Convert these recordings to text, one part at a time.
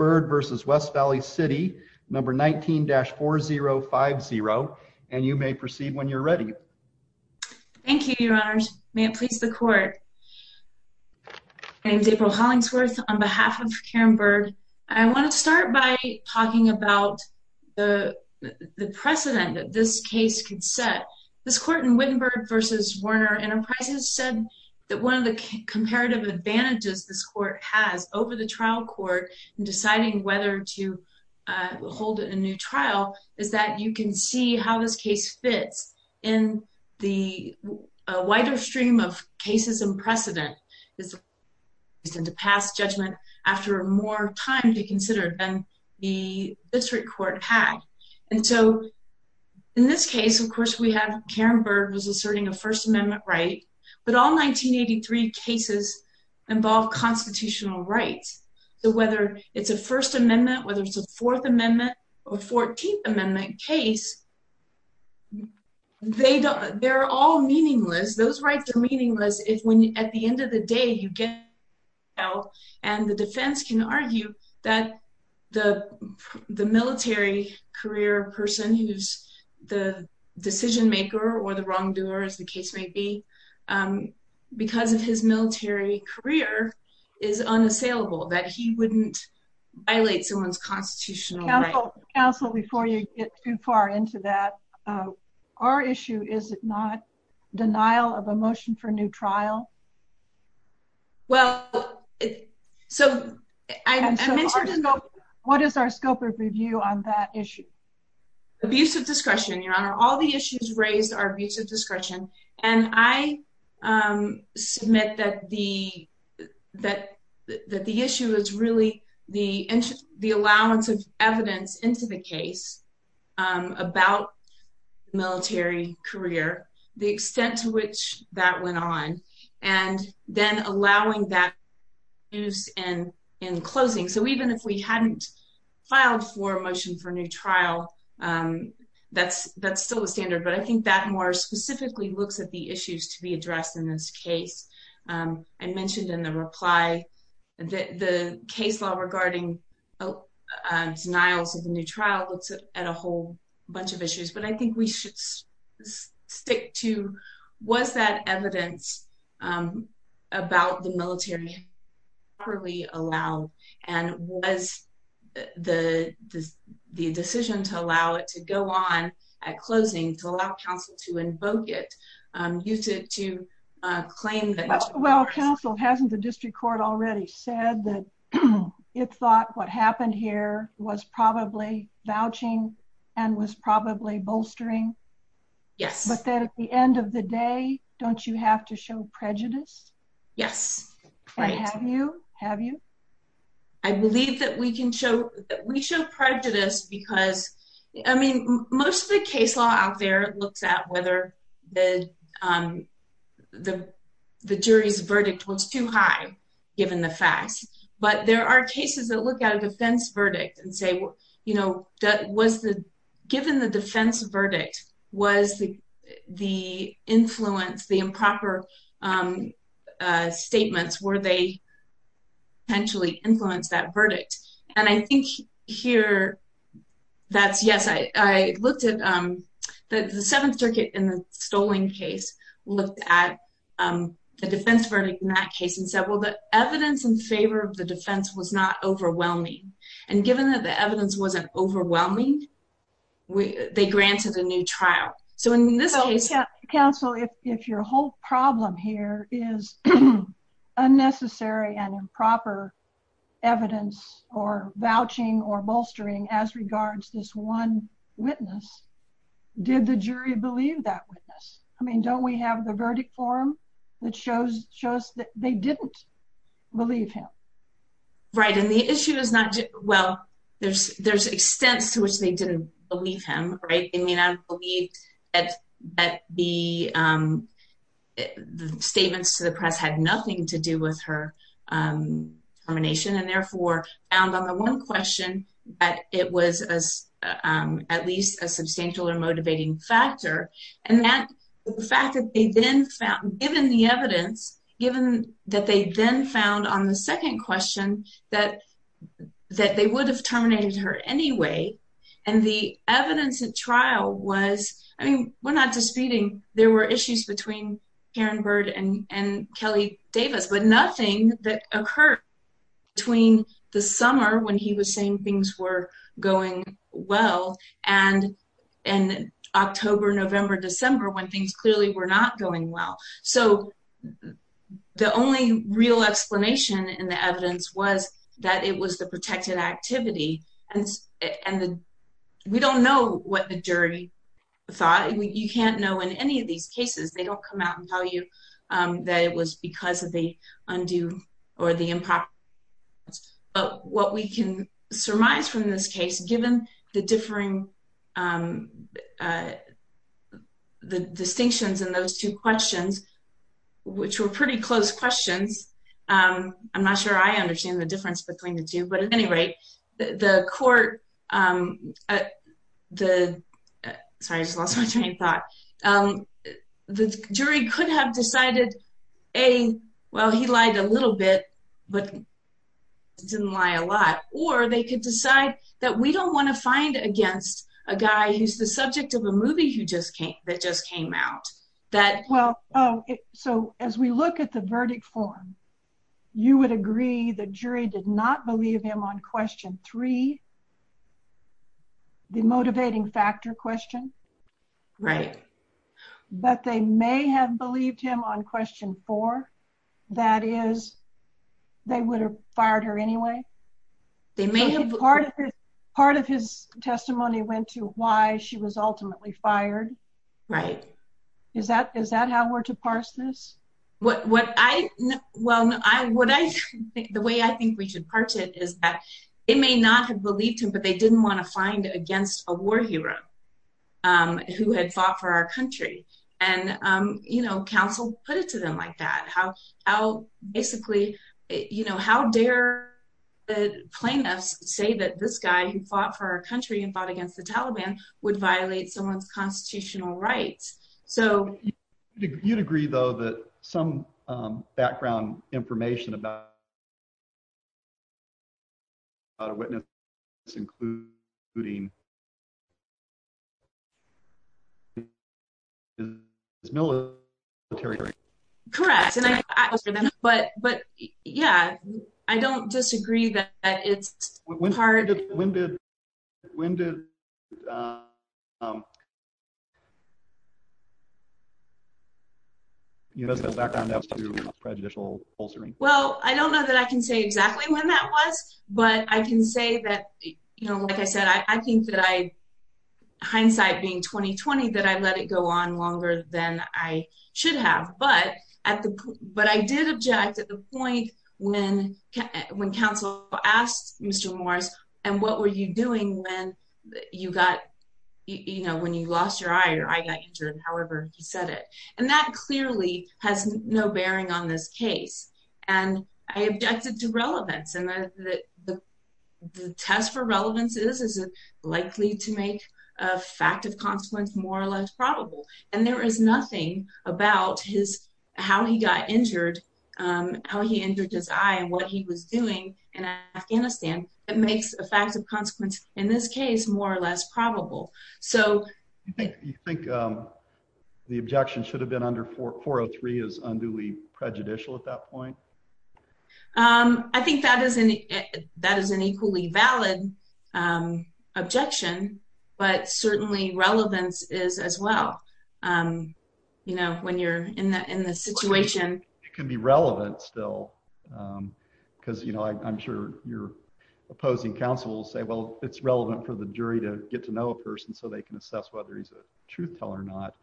19-4050 and you may proceed when you're ready. Thank you, Your Honors. May it please the Court. My name is April Hollingsworth. On behalf of Karen Byrd, I want to start by talking about the precedent that this case could set. This court in Wittenberg v. Warner Enterprises said that one of the comparative advantages this court has over the trial court in deciding whether to hold a new trial is that you can see how this case fits in the wider stream of cases and precedent. It's a precedent to pass judgment after more time to consider than the district court had. And so, in this case, of course, we have Karen Byrd was asserting a First Amendment right, but all 1983 cases involve constitutional rights. So whether it's a First Amendment, whether it's a Fourth Amendment, or 14th Amendment case, they're all meaningless. Those rights are meaningless if at the end of the day you get a trial and the defense can argue that the military career person who's the decision maker or the wrongdoer, as the case may be, because of his military career, is unassailable. That he wouldn't violate someone's constitutional rights. Counsel, before you get too far into that, our issue, is it not denial of a motion for new trial? Well, so I mentioned... What is our scope of review on that issue? Abusive discretion, Your Honor. All the issues raised are abusive discretion, and I submit that the issue is really the allowance of evidence into the case about military career, the extent to which that went on, and then allowing that use in closing. So even if we hadn't filed for a motion for new trial, that's still the standard, but I think that more specifically looks at the issues to be addressed in this case. I mentioned in the reply that the case law regarding denials of a new trial looks at a whole bunch of issues, but I think we should stick to, was that evidence about the military properly allowed? And was the decision to allow it to go on at closing, to allow counsel to invoke it, use it to claim that... Well, counsel, hasn't the district court already said that it thought what happened here was probably vouching and was probably bolstering? Yes. But that at the end of the day, don't you have to show prejudice? Yes. Have you? I believe that we show prejudice because, I mean, most of the case law out there looks at whether the jury's verdict was too high, given the facts, but there are cases that look at a defense verdict and say, given the defense verdict, was the influence, the improper statements, were they potentially influenced that verdict? And I think here that's, yes, I looked at the Seventh Circuit in the Stoling case, looked at the defense verdict in that case and said, well, the evidence in favor of the defense was not overwhelming. And given that the evidence wasn't overwhelming, they granted a new trial. So in this case... Counsel, if your whole problem here is unnecessary and improper evidence or vouching or bolstering as regards this one witness, did the jury believe that witness? I mean, don't we have the verdict form that shows that they didn't believe him? Right, and the issue is not, well, there's extents to which they didn't believe him, right? I mean, I believe that the statements to the press had nothing to do with her termination and therefore found on the one question that it was at least a substantial or motivating factor. And the fact that they then found, given the evidence, given that they then found on the second question that they would have terminated her anyway. And the evidence at trial was, I mean, we're not disputing there were issues between Karen Bird and Kelly Davis, but nothing that occurred between the summer when he was saying things were going well and October, November, December when things clearly were not going well. So the only real explanation in the evidence was that it was the protected activity. And we don't know what the jury thought. You can't know in any of these cases. They don't come out and tell you that it was because of the undue or the improper. But what we can surmise from this case, given the differing, the distinctions in those two questions, which were pretty close questions. I'm not sure I understand the difference between the two. But at any rate, the jury could have decided, A, well, he lied a little bit, but didn't lie a lot. Or they could decide that we don't want to find against a guy who's the subject of a movie that just came out. So as we look at the verdict form, you would agree the jury did not believe him on question three, the motivating factor question. Right. But they may have believed him on question four. That is, they would have fired her anyway. Part of his testimony went to why she was ultimately fired. Right. Is that how we're to parse this? Well, the way I think we should parse it is that it may not have believed him, but they didn't want to find against a war hero who had fought for our country. And counsel put it to them like that. Basically, you know, how dare the plaintiffs say that this guy who fought for our country and fought against the Taliban would violate someone's constitutional rights? You'd agree, though, that some background information about a witness including his military career. Correct. But, but, yeah, I don't disagree that it's hard. When did. When did. You know, some background prejudicial. Well, I don't know that I can say exactly when that was. But I can say that, you know, like I said, I think that I hindsight being 2020 that I let it go on longer than I should have. But at the but I did object at the point when when counsel asked Mr. Morris, and what were you doing when you got, you know, when you lost your eye or I got injured, however, he said it. And that clearly has no bearing on this case. And I objected to relevance and that the test for relevance is is likely to make a fact of consequence more or less probable. And there is nothing about his how he got injured, how he injured his eye and what he was doing in Afghanistan. It makes a fact of consequence in this case more or less probable. So you think the objection should have been under for 403 is unduly prejudicial at that point. I think that is an that is an equally valid objection, but certainly relevance is as well. You know, when you're in the in the situation, it can be relevant still because, you know, I'm sure you're opposing counsel say, well, it's relevant for the jury to get to know a person so they can assess whether he's a truth teller or not.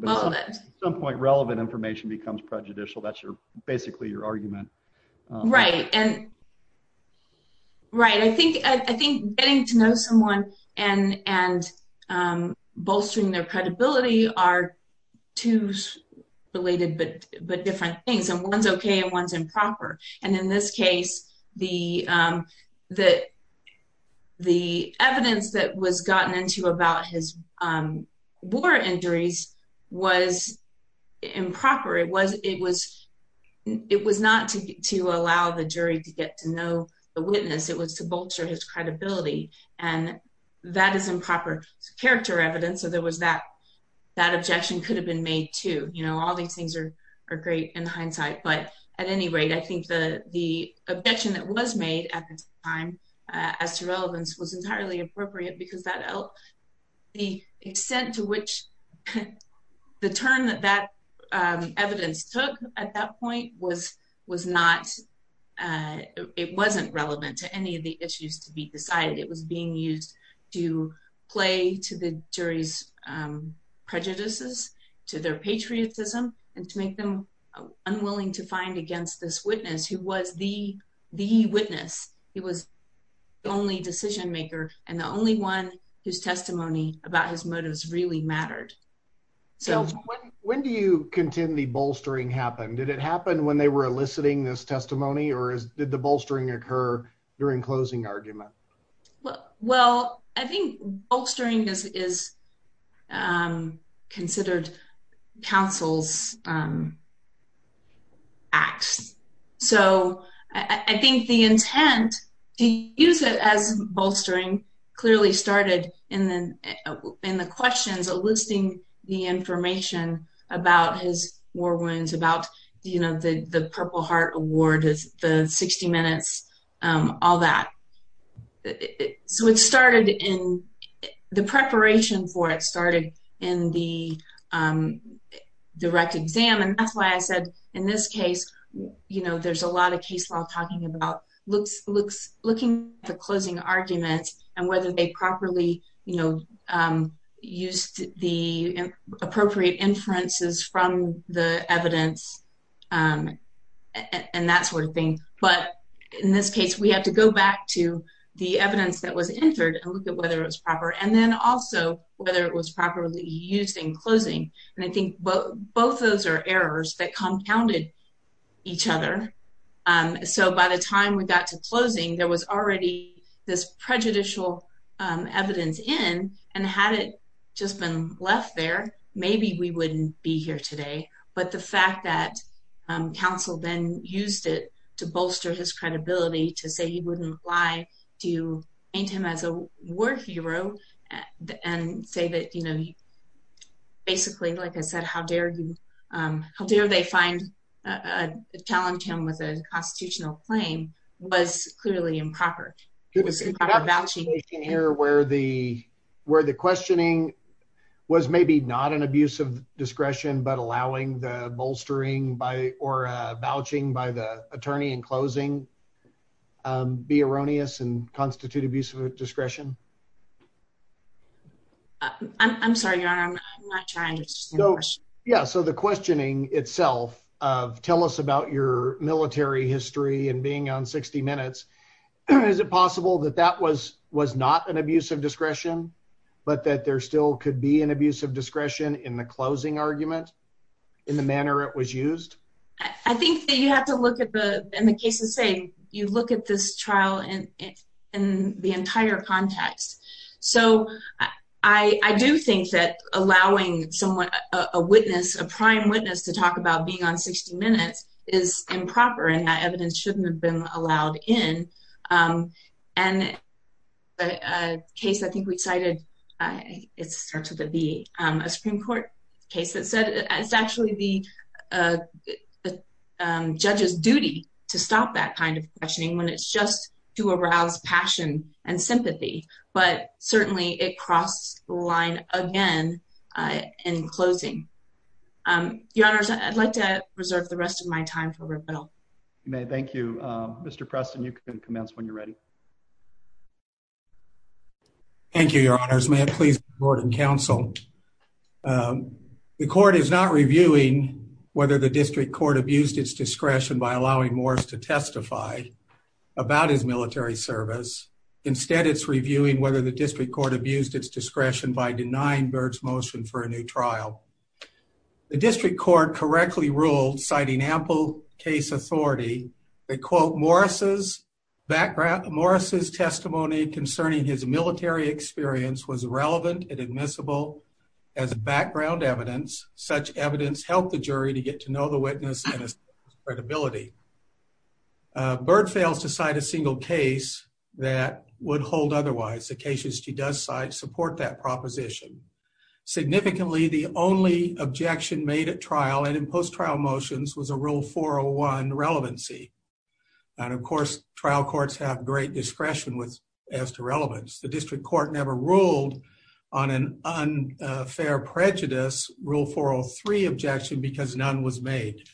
But at some point, relevant information becomes prejudicial. That's your basically your argument. Right. And. Right. I think I think getting to know someone and and bolstering their credibility are two related but but different things and one's OK and one's improper. And in this case, the the the evidence that was gotten into about his war injuries was improper. It was it was it was not to allow the jury to get to know the witness. It was to bolster his credibility. And that is improper character evidence. So there was that that objection could have been made to, you know, all these things are are great in hindsight. But at any rate, I think the the objection that was made at the time as to relevance was entirely appropriate because that the extent to which the term that that evidence took at that point was was not it wasn't relevant to any of the issues to be decided. It was being used to play to the jury's prejudices, to their patriotism and to make them unwilling to find against this witness who was the the witness. He was the only decision maker and the only one whose testimony about his motives really mattered. So when do you contend the bolstering happened? Did it happen when they were eliciting this testimony or did the bolstering occur during closing argument? Well, I think bolstering is considered counsel's axe. So I think the intent to use it as bolstering clearly started in the in the questions eliciting the information about his war wounds, about, you know, the Purple Heart Award, the 60 Minutes, all that. So it started in the preparation for it started in the direct exam. And that's why I said in this case, you know, there's a lot of case law talking about looks, looks, looking at the closing arguments and whether they properly, you know, used the appropriate inferences from the evidence and that sort of thing. But in this case, we have to go back to the evidence that was entered and look at whether it was proper and then also whether it was properly used in closing. And I think both those are errors that compounded each other. So by the time we got to closing, there was already this prejudicial evidence in and had it just been left there, maybe we wouldn't be here today. But the fact that counsel then used it to bolster his credibility to say he wouldn't lie to paint him as a war hero and say that, you know, basically, like I said, how dare you, how dare they find a challenge him with a constitutional claim was clearly improper. Here where the where the questioning was maybe not an abuse of discretion, but allowing the bolstering by or vouching by the attorney in closing be erroneous and constitute abuse of discretion. I'm sorry, I'm not trying to. Yeah, so the questioning itself of tell us about your military history and being on 60 minutes. Is it possible that that was was not an abuse of discretion, but that there still could be an abuse of discretion in the closing argument in the manner it was used. I think that you have to look at the in the case of saying you look at this trial and in the entire context. So I do think that allowing someone a witness a prime witness to talk about being on 60 minutes is improper and that evidence shouldn't have been allowed in. And a case. I think we cited it starts with a be a Supreme Court case that said it's actually the Judges duty to stop that kind of questioning when it's just to arouse passion and sympathy, but certainly it crossed the line again in closing. I'd like to reserve the rest of my time. You may. Thank you, Mr Preston. You can commence when you're ready. Thank you, Your Honors. May it please Gordon Council. The court is not reviewing whether the district court abused its discretion by allowing Morris to testify about his military service. Instead, it's reviewing whether the district court abused its discretion by denying birds motion for a new trial. The district court correctly ruled, citing ample case authority. They quote Morris's background. Morris's testimony concerning his military experience was relevant and admissible as a background evidence such evidence help the jury to get to know the witness credibility. Bird fails to cite a single case that would hold. Otherwise, the cases she does side support that proposition. Significantly, the only objection made at trial and in post trial motions was a rule 401 relevancy. And of course, trial courts have great discretion with as to relevance. The district court never ruled on an unfair prejudice rule 403 objection because none was made.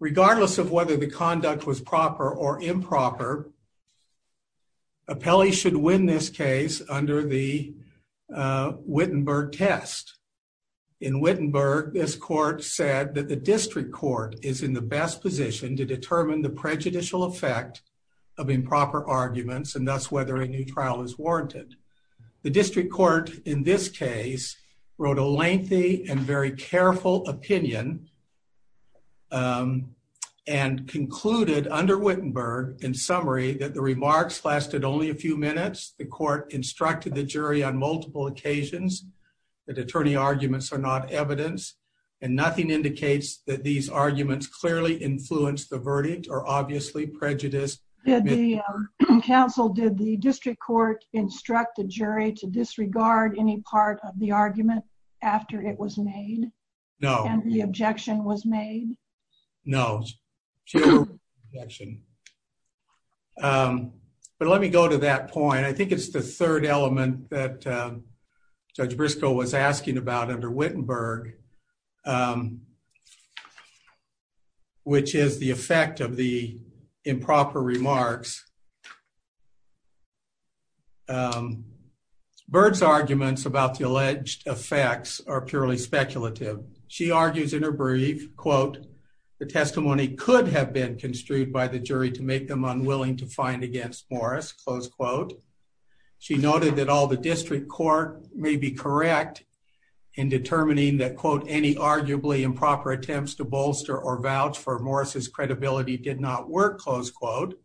Regardless of whether the conduct was proper or improper. Appellee should win this case under the Wittenberg test in Wittenberg. This court said that the district court is in the best position to determine the prejudicial effect of improper arguments and that's whether a new trial is warranted. The district court in this case wrote a lengthy and very careful opinion. And concluded under Wittenberg in summary that the remarks lasted only a few minutes. The court instructed the jury on multiple occasions that attorney arguments are not evidence and nothing indicates that these arguments clearly influence the verdict or obviously prejudice. Counsel did the district court instructed jury to disregard any part of the argument after it was made. No, the objection was made. No. But let me go to that point. I think it's the third element that Briscoe was asking about under Wittenberg Which is the effect of the improper remarks. Bird's arguments about the alleged effects are purely speculative. She argues in her brief quote the testimony could have been construed by the jury to make them unwilling to find against Morris close quote. She noted that all the district court may be correct in determining that quote any arguably improper attempts to bolster or vouch for Morris's credibility did not work close quote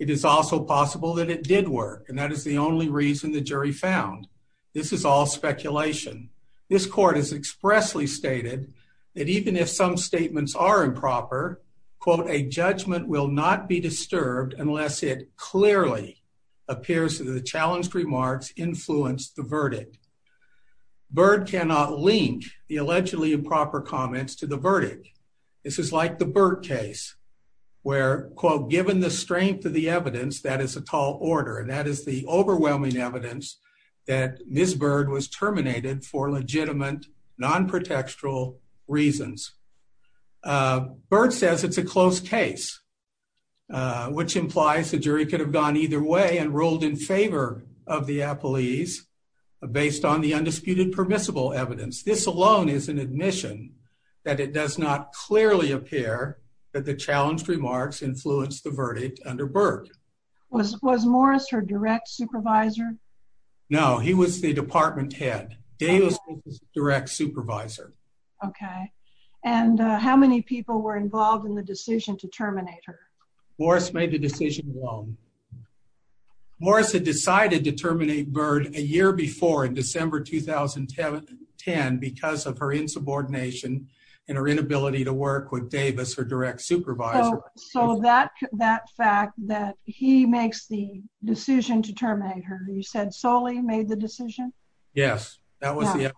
It is also possible that it did work. And that is the only reason the jury found this is all speculation. This court has expressly stated That even if some statements are improper quote a judgment will not be disturbed unless it clearly appears to the challenged remarks influence the verdict. Bird cannot link the allegedly improper comments to the verdict. This is like the bird case. Where, quote, given the strength of the evidence that is a tall order and that is the overwhelming evidence that Miss Bird was terminated for legitimate non protectoral reasons. Bird says it's a close case. Which implies the jury could have gone either way and ruled in favor of the appellees based on the undisputed permissible evidence. This alone is an admission that it does not clearly appear that the challenged remarks influence the verdict under bird was was Morris her direct supervisor. No, he was the department head Davis direct supervisor. Okay. And how many people were involved in the decision to terminate her Morris made the decision alone. Morris had decided to terminate bird a year before in December 2010 because of her insubordination and her inability to work with Davis or direct supervisor. So that that fact that he makes the decision to terminate her. You said solely made the decision. Yes, that was the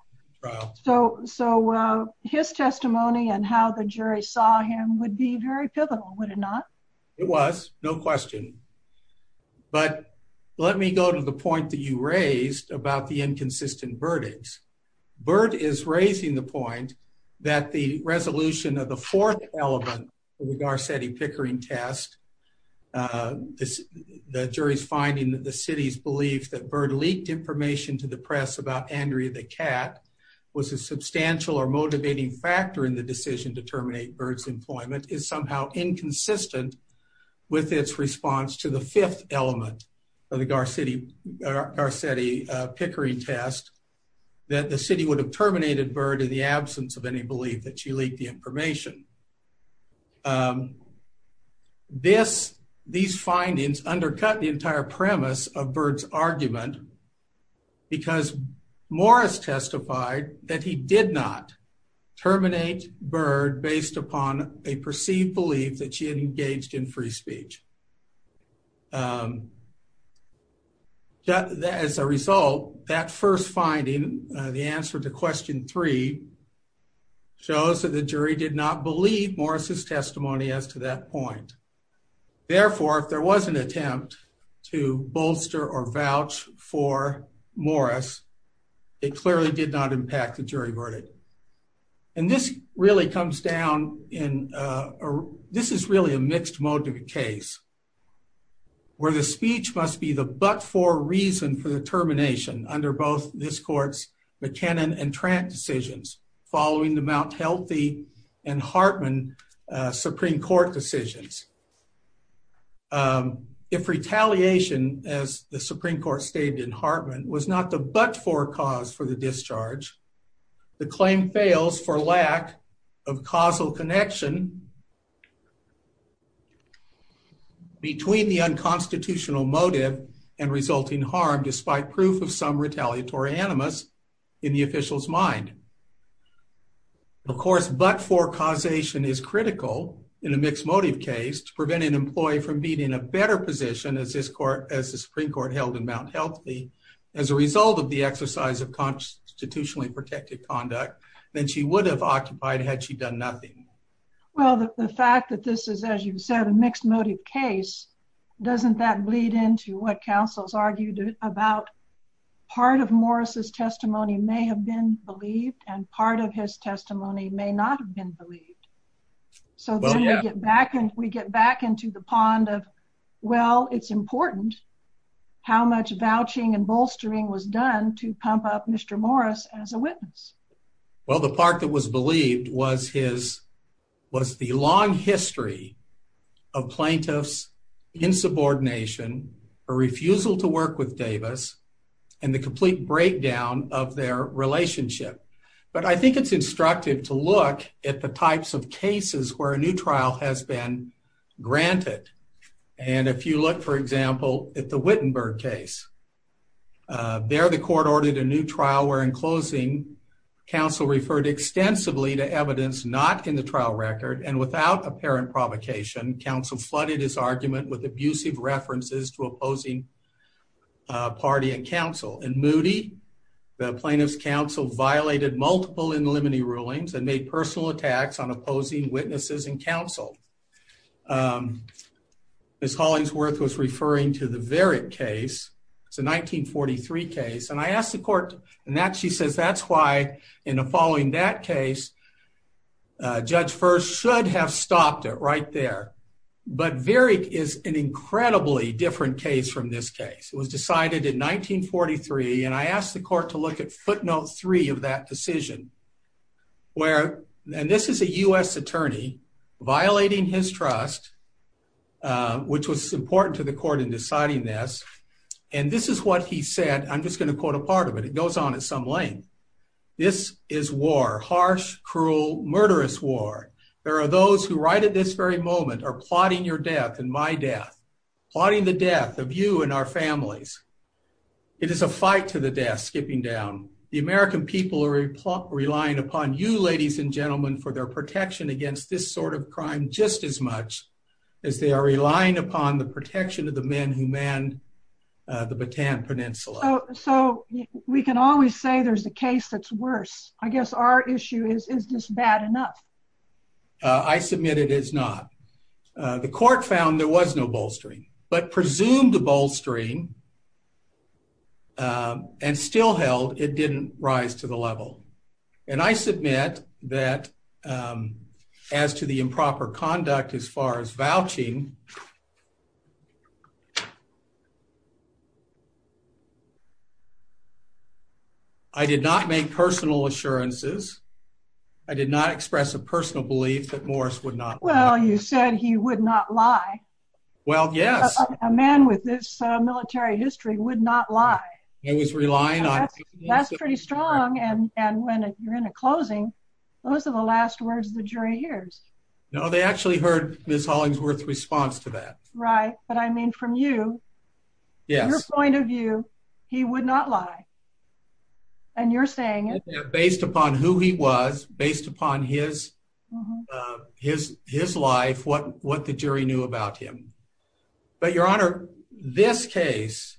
So, so his testimony and how the jury saw him would be very pivotal. Would it not It was no question. But let me go to the point that you raised about the inconsistent verdicts bird is raising the point that the resolution of the fourth element. Garcetti Pickering test. The jury's finding that the city's belief that bird leaked information to the press about Andrea, the cat was a substantial or motivating factor in the decision to terminate birds employment is somehow inconsistent. With its response to the fifth element of the Garcetti Pickering test that the city would have terminated bird in the absence of any belief that she leaked the information. This these findings undercut the entire premise of birds argument. Because Morris testified that he did not terminate bird based upon a perceived belief that she had engaged in free speech. That as a result that first finding the answer to question three. Shows that the jury did not believe Morris's testimony as to that point. Therefore, if there was an attempt to bolster or vouch for Morris, it clearly did not impact the jury verdict. And this really comes down in. This is really a mixed motive case. Where the speech must be the but for reason for the termination under both this court's McKinnon and Trent decisions following the Mount healthy and Hartman Supreme Court decisions. If retaliation as the Supreme Court stated in Hartman was not the but for cause for the discharge the claim fails for lack of causal connection. Between the unconstitutional motive and resulting harm despite proof of some retaliatory animus in the officials mind. Of course, but for causation is critical in a mixed motive case to prevent an employee from being in a better position as this court as the Supreme Court held in Mount healthy. As a result of the exercise of constitutionally protected conduct, then she would have occupied had she done nothing. Well, the fact that this is, as you've said, a mixed motive case doesn't that bleed into what councils argued about part of Morris's testimony may have been believed and part of his testimony may not have been believed So we get back and we get back into the pond of, well, it's important how much vouching and bolstering was done to pump up Mr. Morris as a witness. Well, the part that was believed was his was the long history of plaintiffs in subordination or refusal to work with Davis and the complete breakdown of their relationship. But I think it's instructive to look at the types of cases where a new trial has been granted. And if you look, for example, at the Wittenberg case. There the court ordered a new trial where in closing council referred extensively to evidence not in the trial record and without apparent provocation council flooded his argument with abusive references to opposing Party and Council and moody the plaintiffs council violated multiple in the limiting rulings and made personal attacks on opposing witnesses and counsel. As Hollingsworth was referring to the very case. It's a 1943 case and I asked the court and that she says that's why in a following that case. Judge first should have stopped it right there, but very is an incredibly different case from this case was decided in 1943 and I asked the court to look at footnote three of that decision. Where, and this is a US attorney violating his trust. Which was important to the court in deciding this and this is what he said, I'm just going to quote a part of it. It goes on at some length. This is war harsh cruel murderous war. There are those who right at this very moment are plotting your death and my death plotting the death of you and our families. It is a fight to the death skipping down the American people are relying upon you, ladies and gentlemen, for their protection against this sort of crime, just as much as they are relying upon the protection of the men who man. The baton peninsula. So we can always say there's a case that's worse. I guess our issue is, is this bad enough I submitted is not the court found there was no bolstering but presumed to bolstering And still held it didn't rise to the level and I submit that As to the improper conduct as far as vouching I did not make personal assurances. I did not express a personal belief that Morris would not. Well, you said he would not lie. Well, yes, a man with this military history would not lie. It was relying on That's pretty strong and and when you're in a closing. Those are the last words, the jury hears No, they actually heard Miss Hollingsworth response to that. Right. But I mean, from you. Yes, point of view, he would not lie. And you're saying Based upon who he was based upon his His, his life. What, what the jury knew about him, but your honor this case.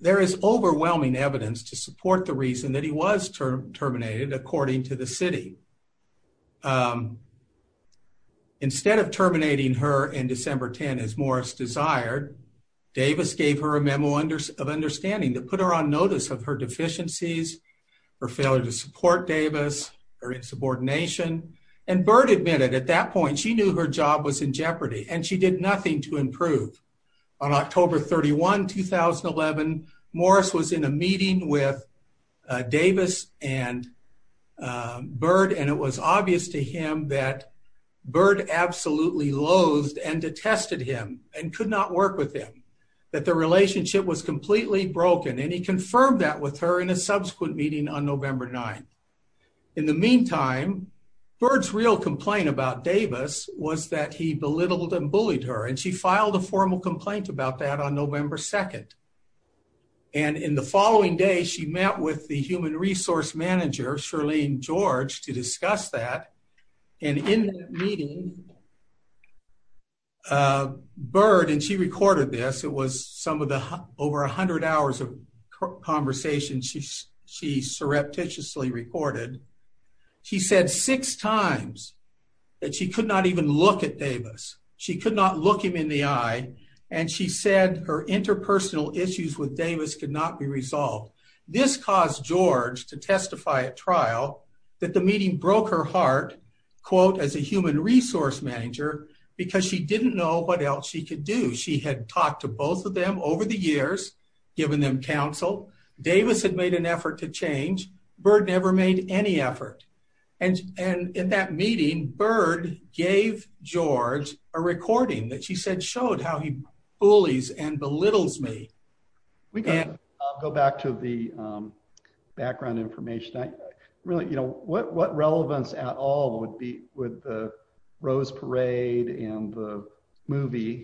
There is overwhelming evidence to support the reason that he was term terminated according to the city. Instead of terminating her in December 10 as Morris desired Davis gave her a memo under of understanding to put her on notice of her deficiencies. For failure to support Davis or insubordination and bird admitted at that point she knew her job was in jeopardy and she did nothing to improve on October 31 2011 Morris was in a meeting with Davis and Bird and it was obvious to him that bird absolutely loathed and detested him and could not work with him. That the relationship was completely broken and he confirmed that with her in a subsequent meeting on November 9 In the meantime, birds real complaint about Davis was that he belittled and bullied her and she filed a formal complaint about that on November 2 And in the following day, she met with the human resource manager Charlene George to discuss that and in meeting. Bird and she recorded this. It was some of the over 100 hours of conversation. She she surreptitiously reported She said six times that she could not even look at Davis. She could not look him in the eye and she said her interpersonal issues with Davis could not be resolved. This caused George to testify at trial that the meeting broke her heart quote as a human resource manager, because she didn't know what else she could do. She had talked to both of them over the years. Given them counsel Davis had made an effort to change bird never made any effort and and in that meeting bird gave George a recording that she said showed how he bullies and belittles me We can go back to the background information. I really, you know what what relevance at all would be with the Rose Parade and the movie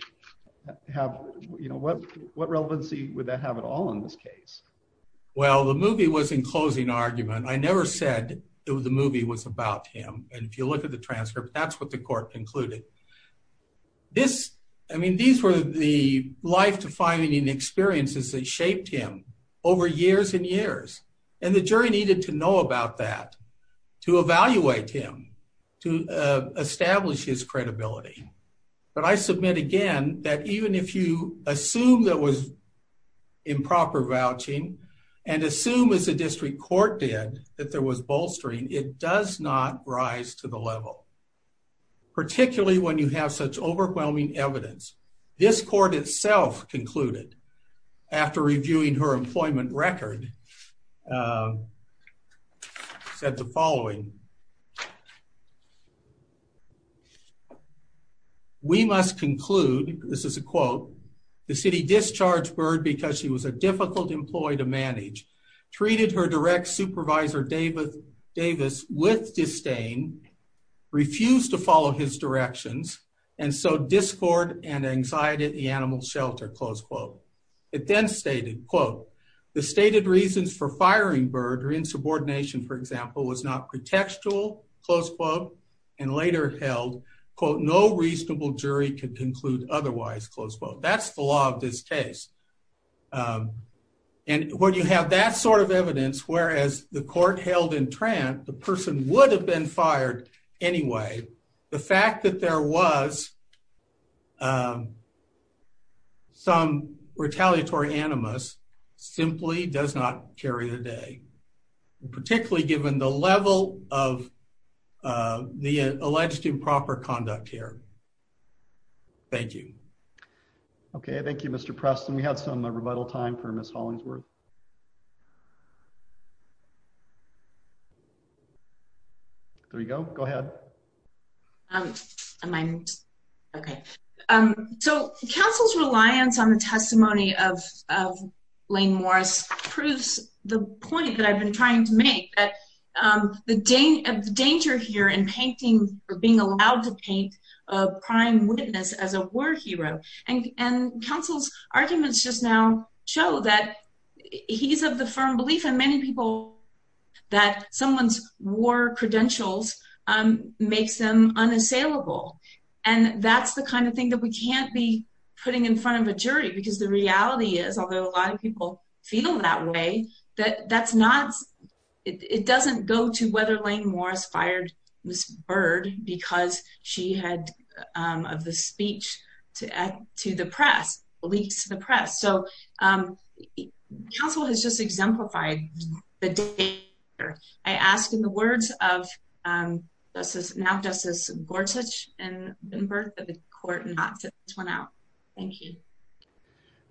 have you know what what relevancy with that have it all in this case. Well, the movie was in closing argument. I never said it was the movie was about him. And if you look at the transcript. That's what the court included This. I mean, these were the life defining experiences that shaped him over years and years and the jury needed to know about that to evaluate him to establish his credibility, but I submit again that even if you assume that was improper vouching and assume as a district court did that there was bolstering it does not rise to the level. Particularly when you have such overwhelming evidence this court itself concluded after reviewing her employment record. We must conclude. This is a quote the city discharge bird because she was a difficult employee to manage treated her direct supervisor David Davis with disdain. Refused to follow his directions and so discord and anxiety at the animal shelter, close quote. It then stated, quote, the stated reasons for firing bird or in subordination, for example, was not contextual close quote and later held quote no reasonable jury could conclude otherwise close quote, that's the law of this case. And when you have that sort of evidence, whereas the court held in Trent, the person would have been fired. Anyway, the fact that there was Some retaliatory animals simply does not carry the day, particularly given the level of The alleged improper conduct here. Thank you. Okay, thank you, Mr. Preston. We have some rebuttal time for Miss Hollingsworth. There you go. Go ahead. Am I okay. So councils reliance on the testimony of Lane Morris proves the point that I've been trying to make that The day of danger here and painting or being allowed to paint a prime witness as a war hero and and councils arguments just now show that he's of the firm belief and many people That someone's war credentials and makes them unassailable. And that's the kind of thing that we can't be putting in front of a jury, because the reality is, although a lot of people feel that way that that's not It doesn't go to whether lane Morris fired this bird because she had of the speech to add to the press leaks to the press so Council has just exemplified the day or I asked in the words of This is now just as gorgeous and birth of the court not to run out. Thank you.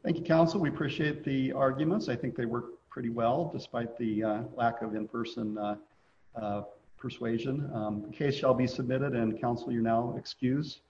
Thank you, counsel. We appreciate the arguments. I think they work pretty well. Despite the lack of in person. Persuasion case shall be submitted and counsel, you're now excuse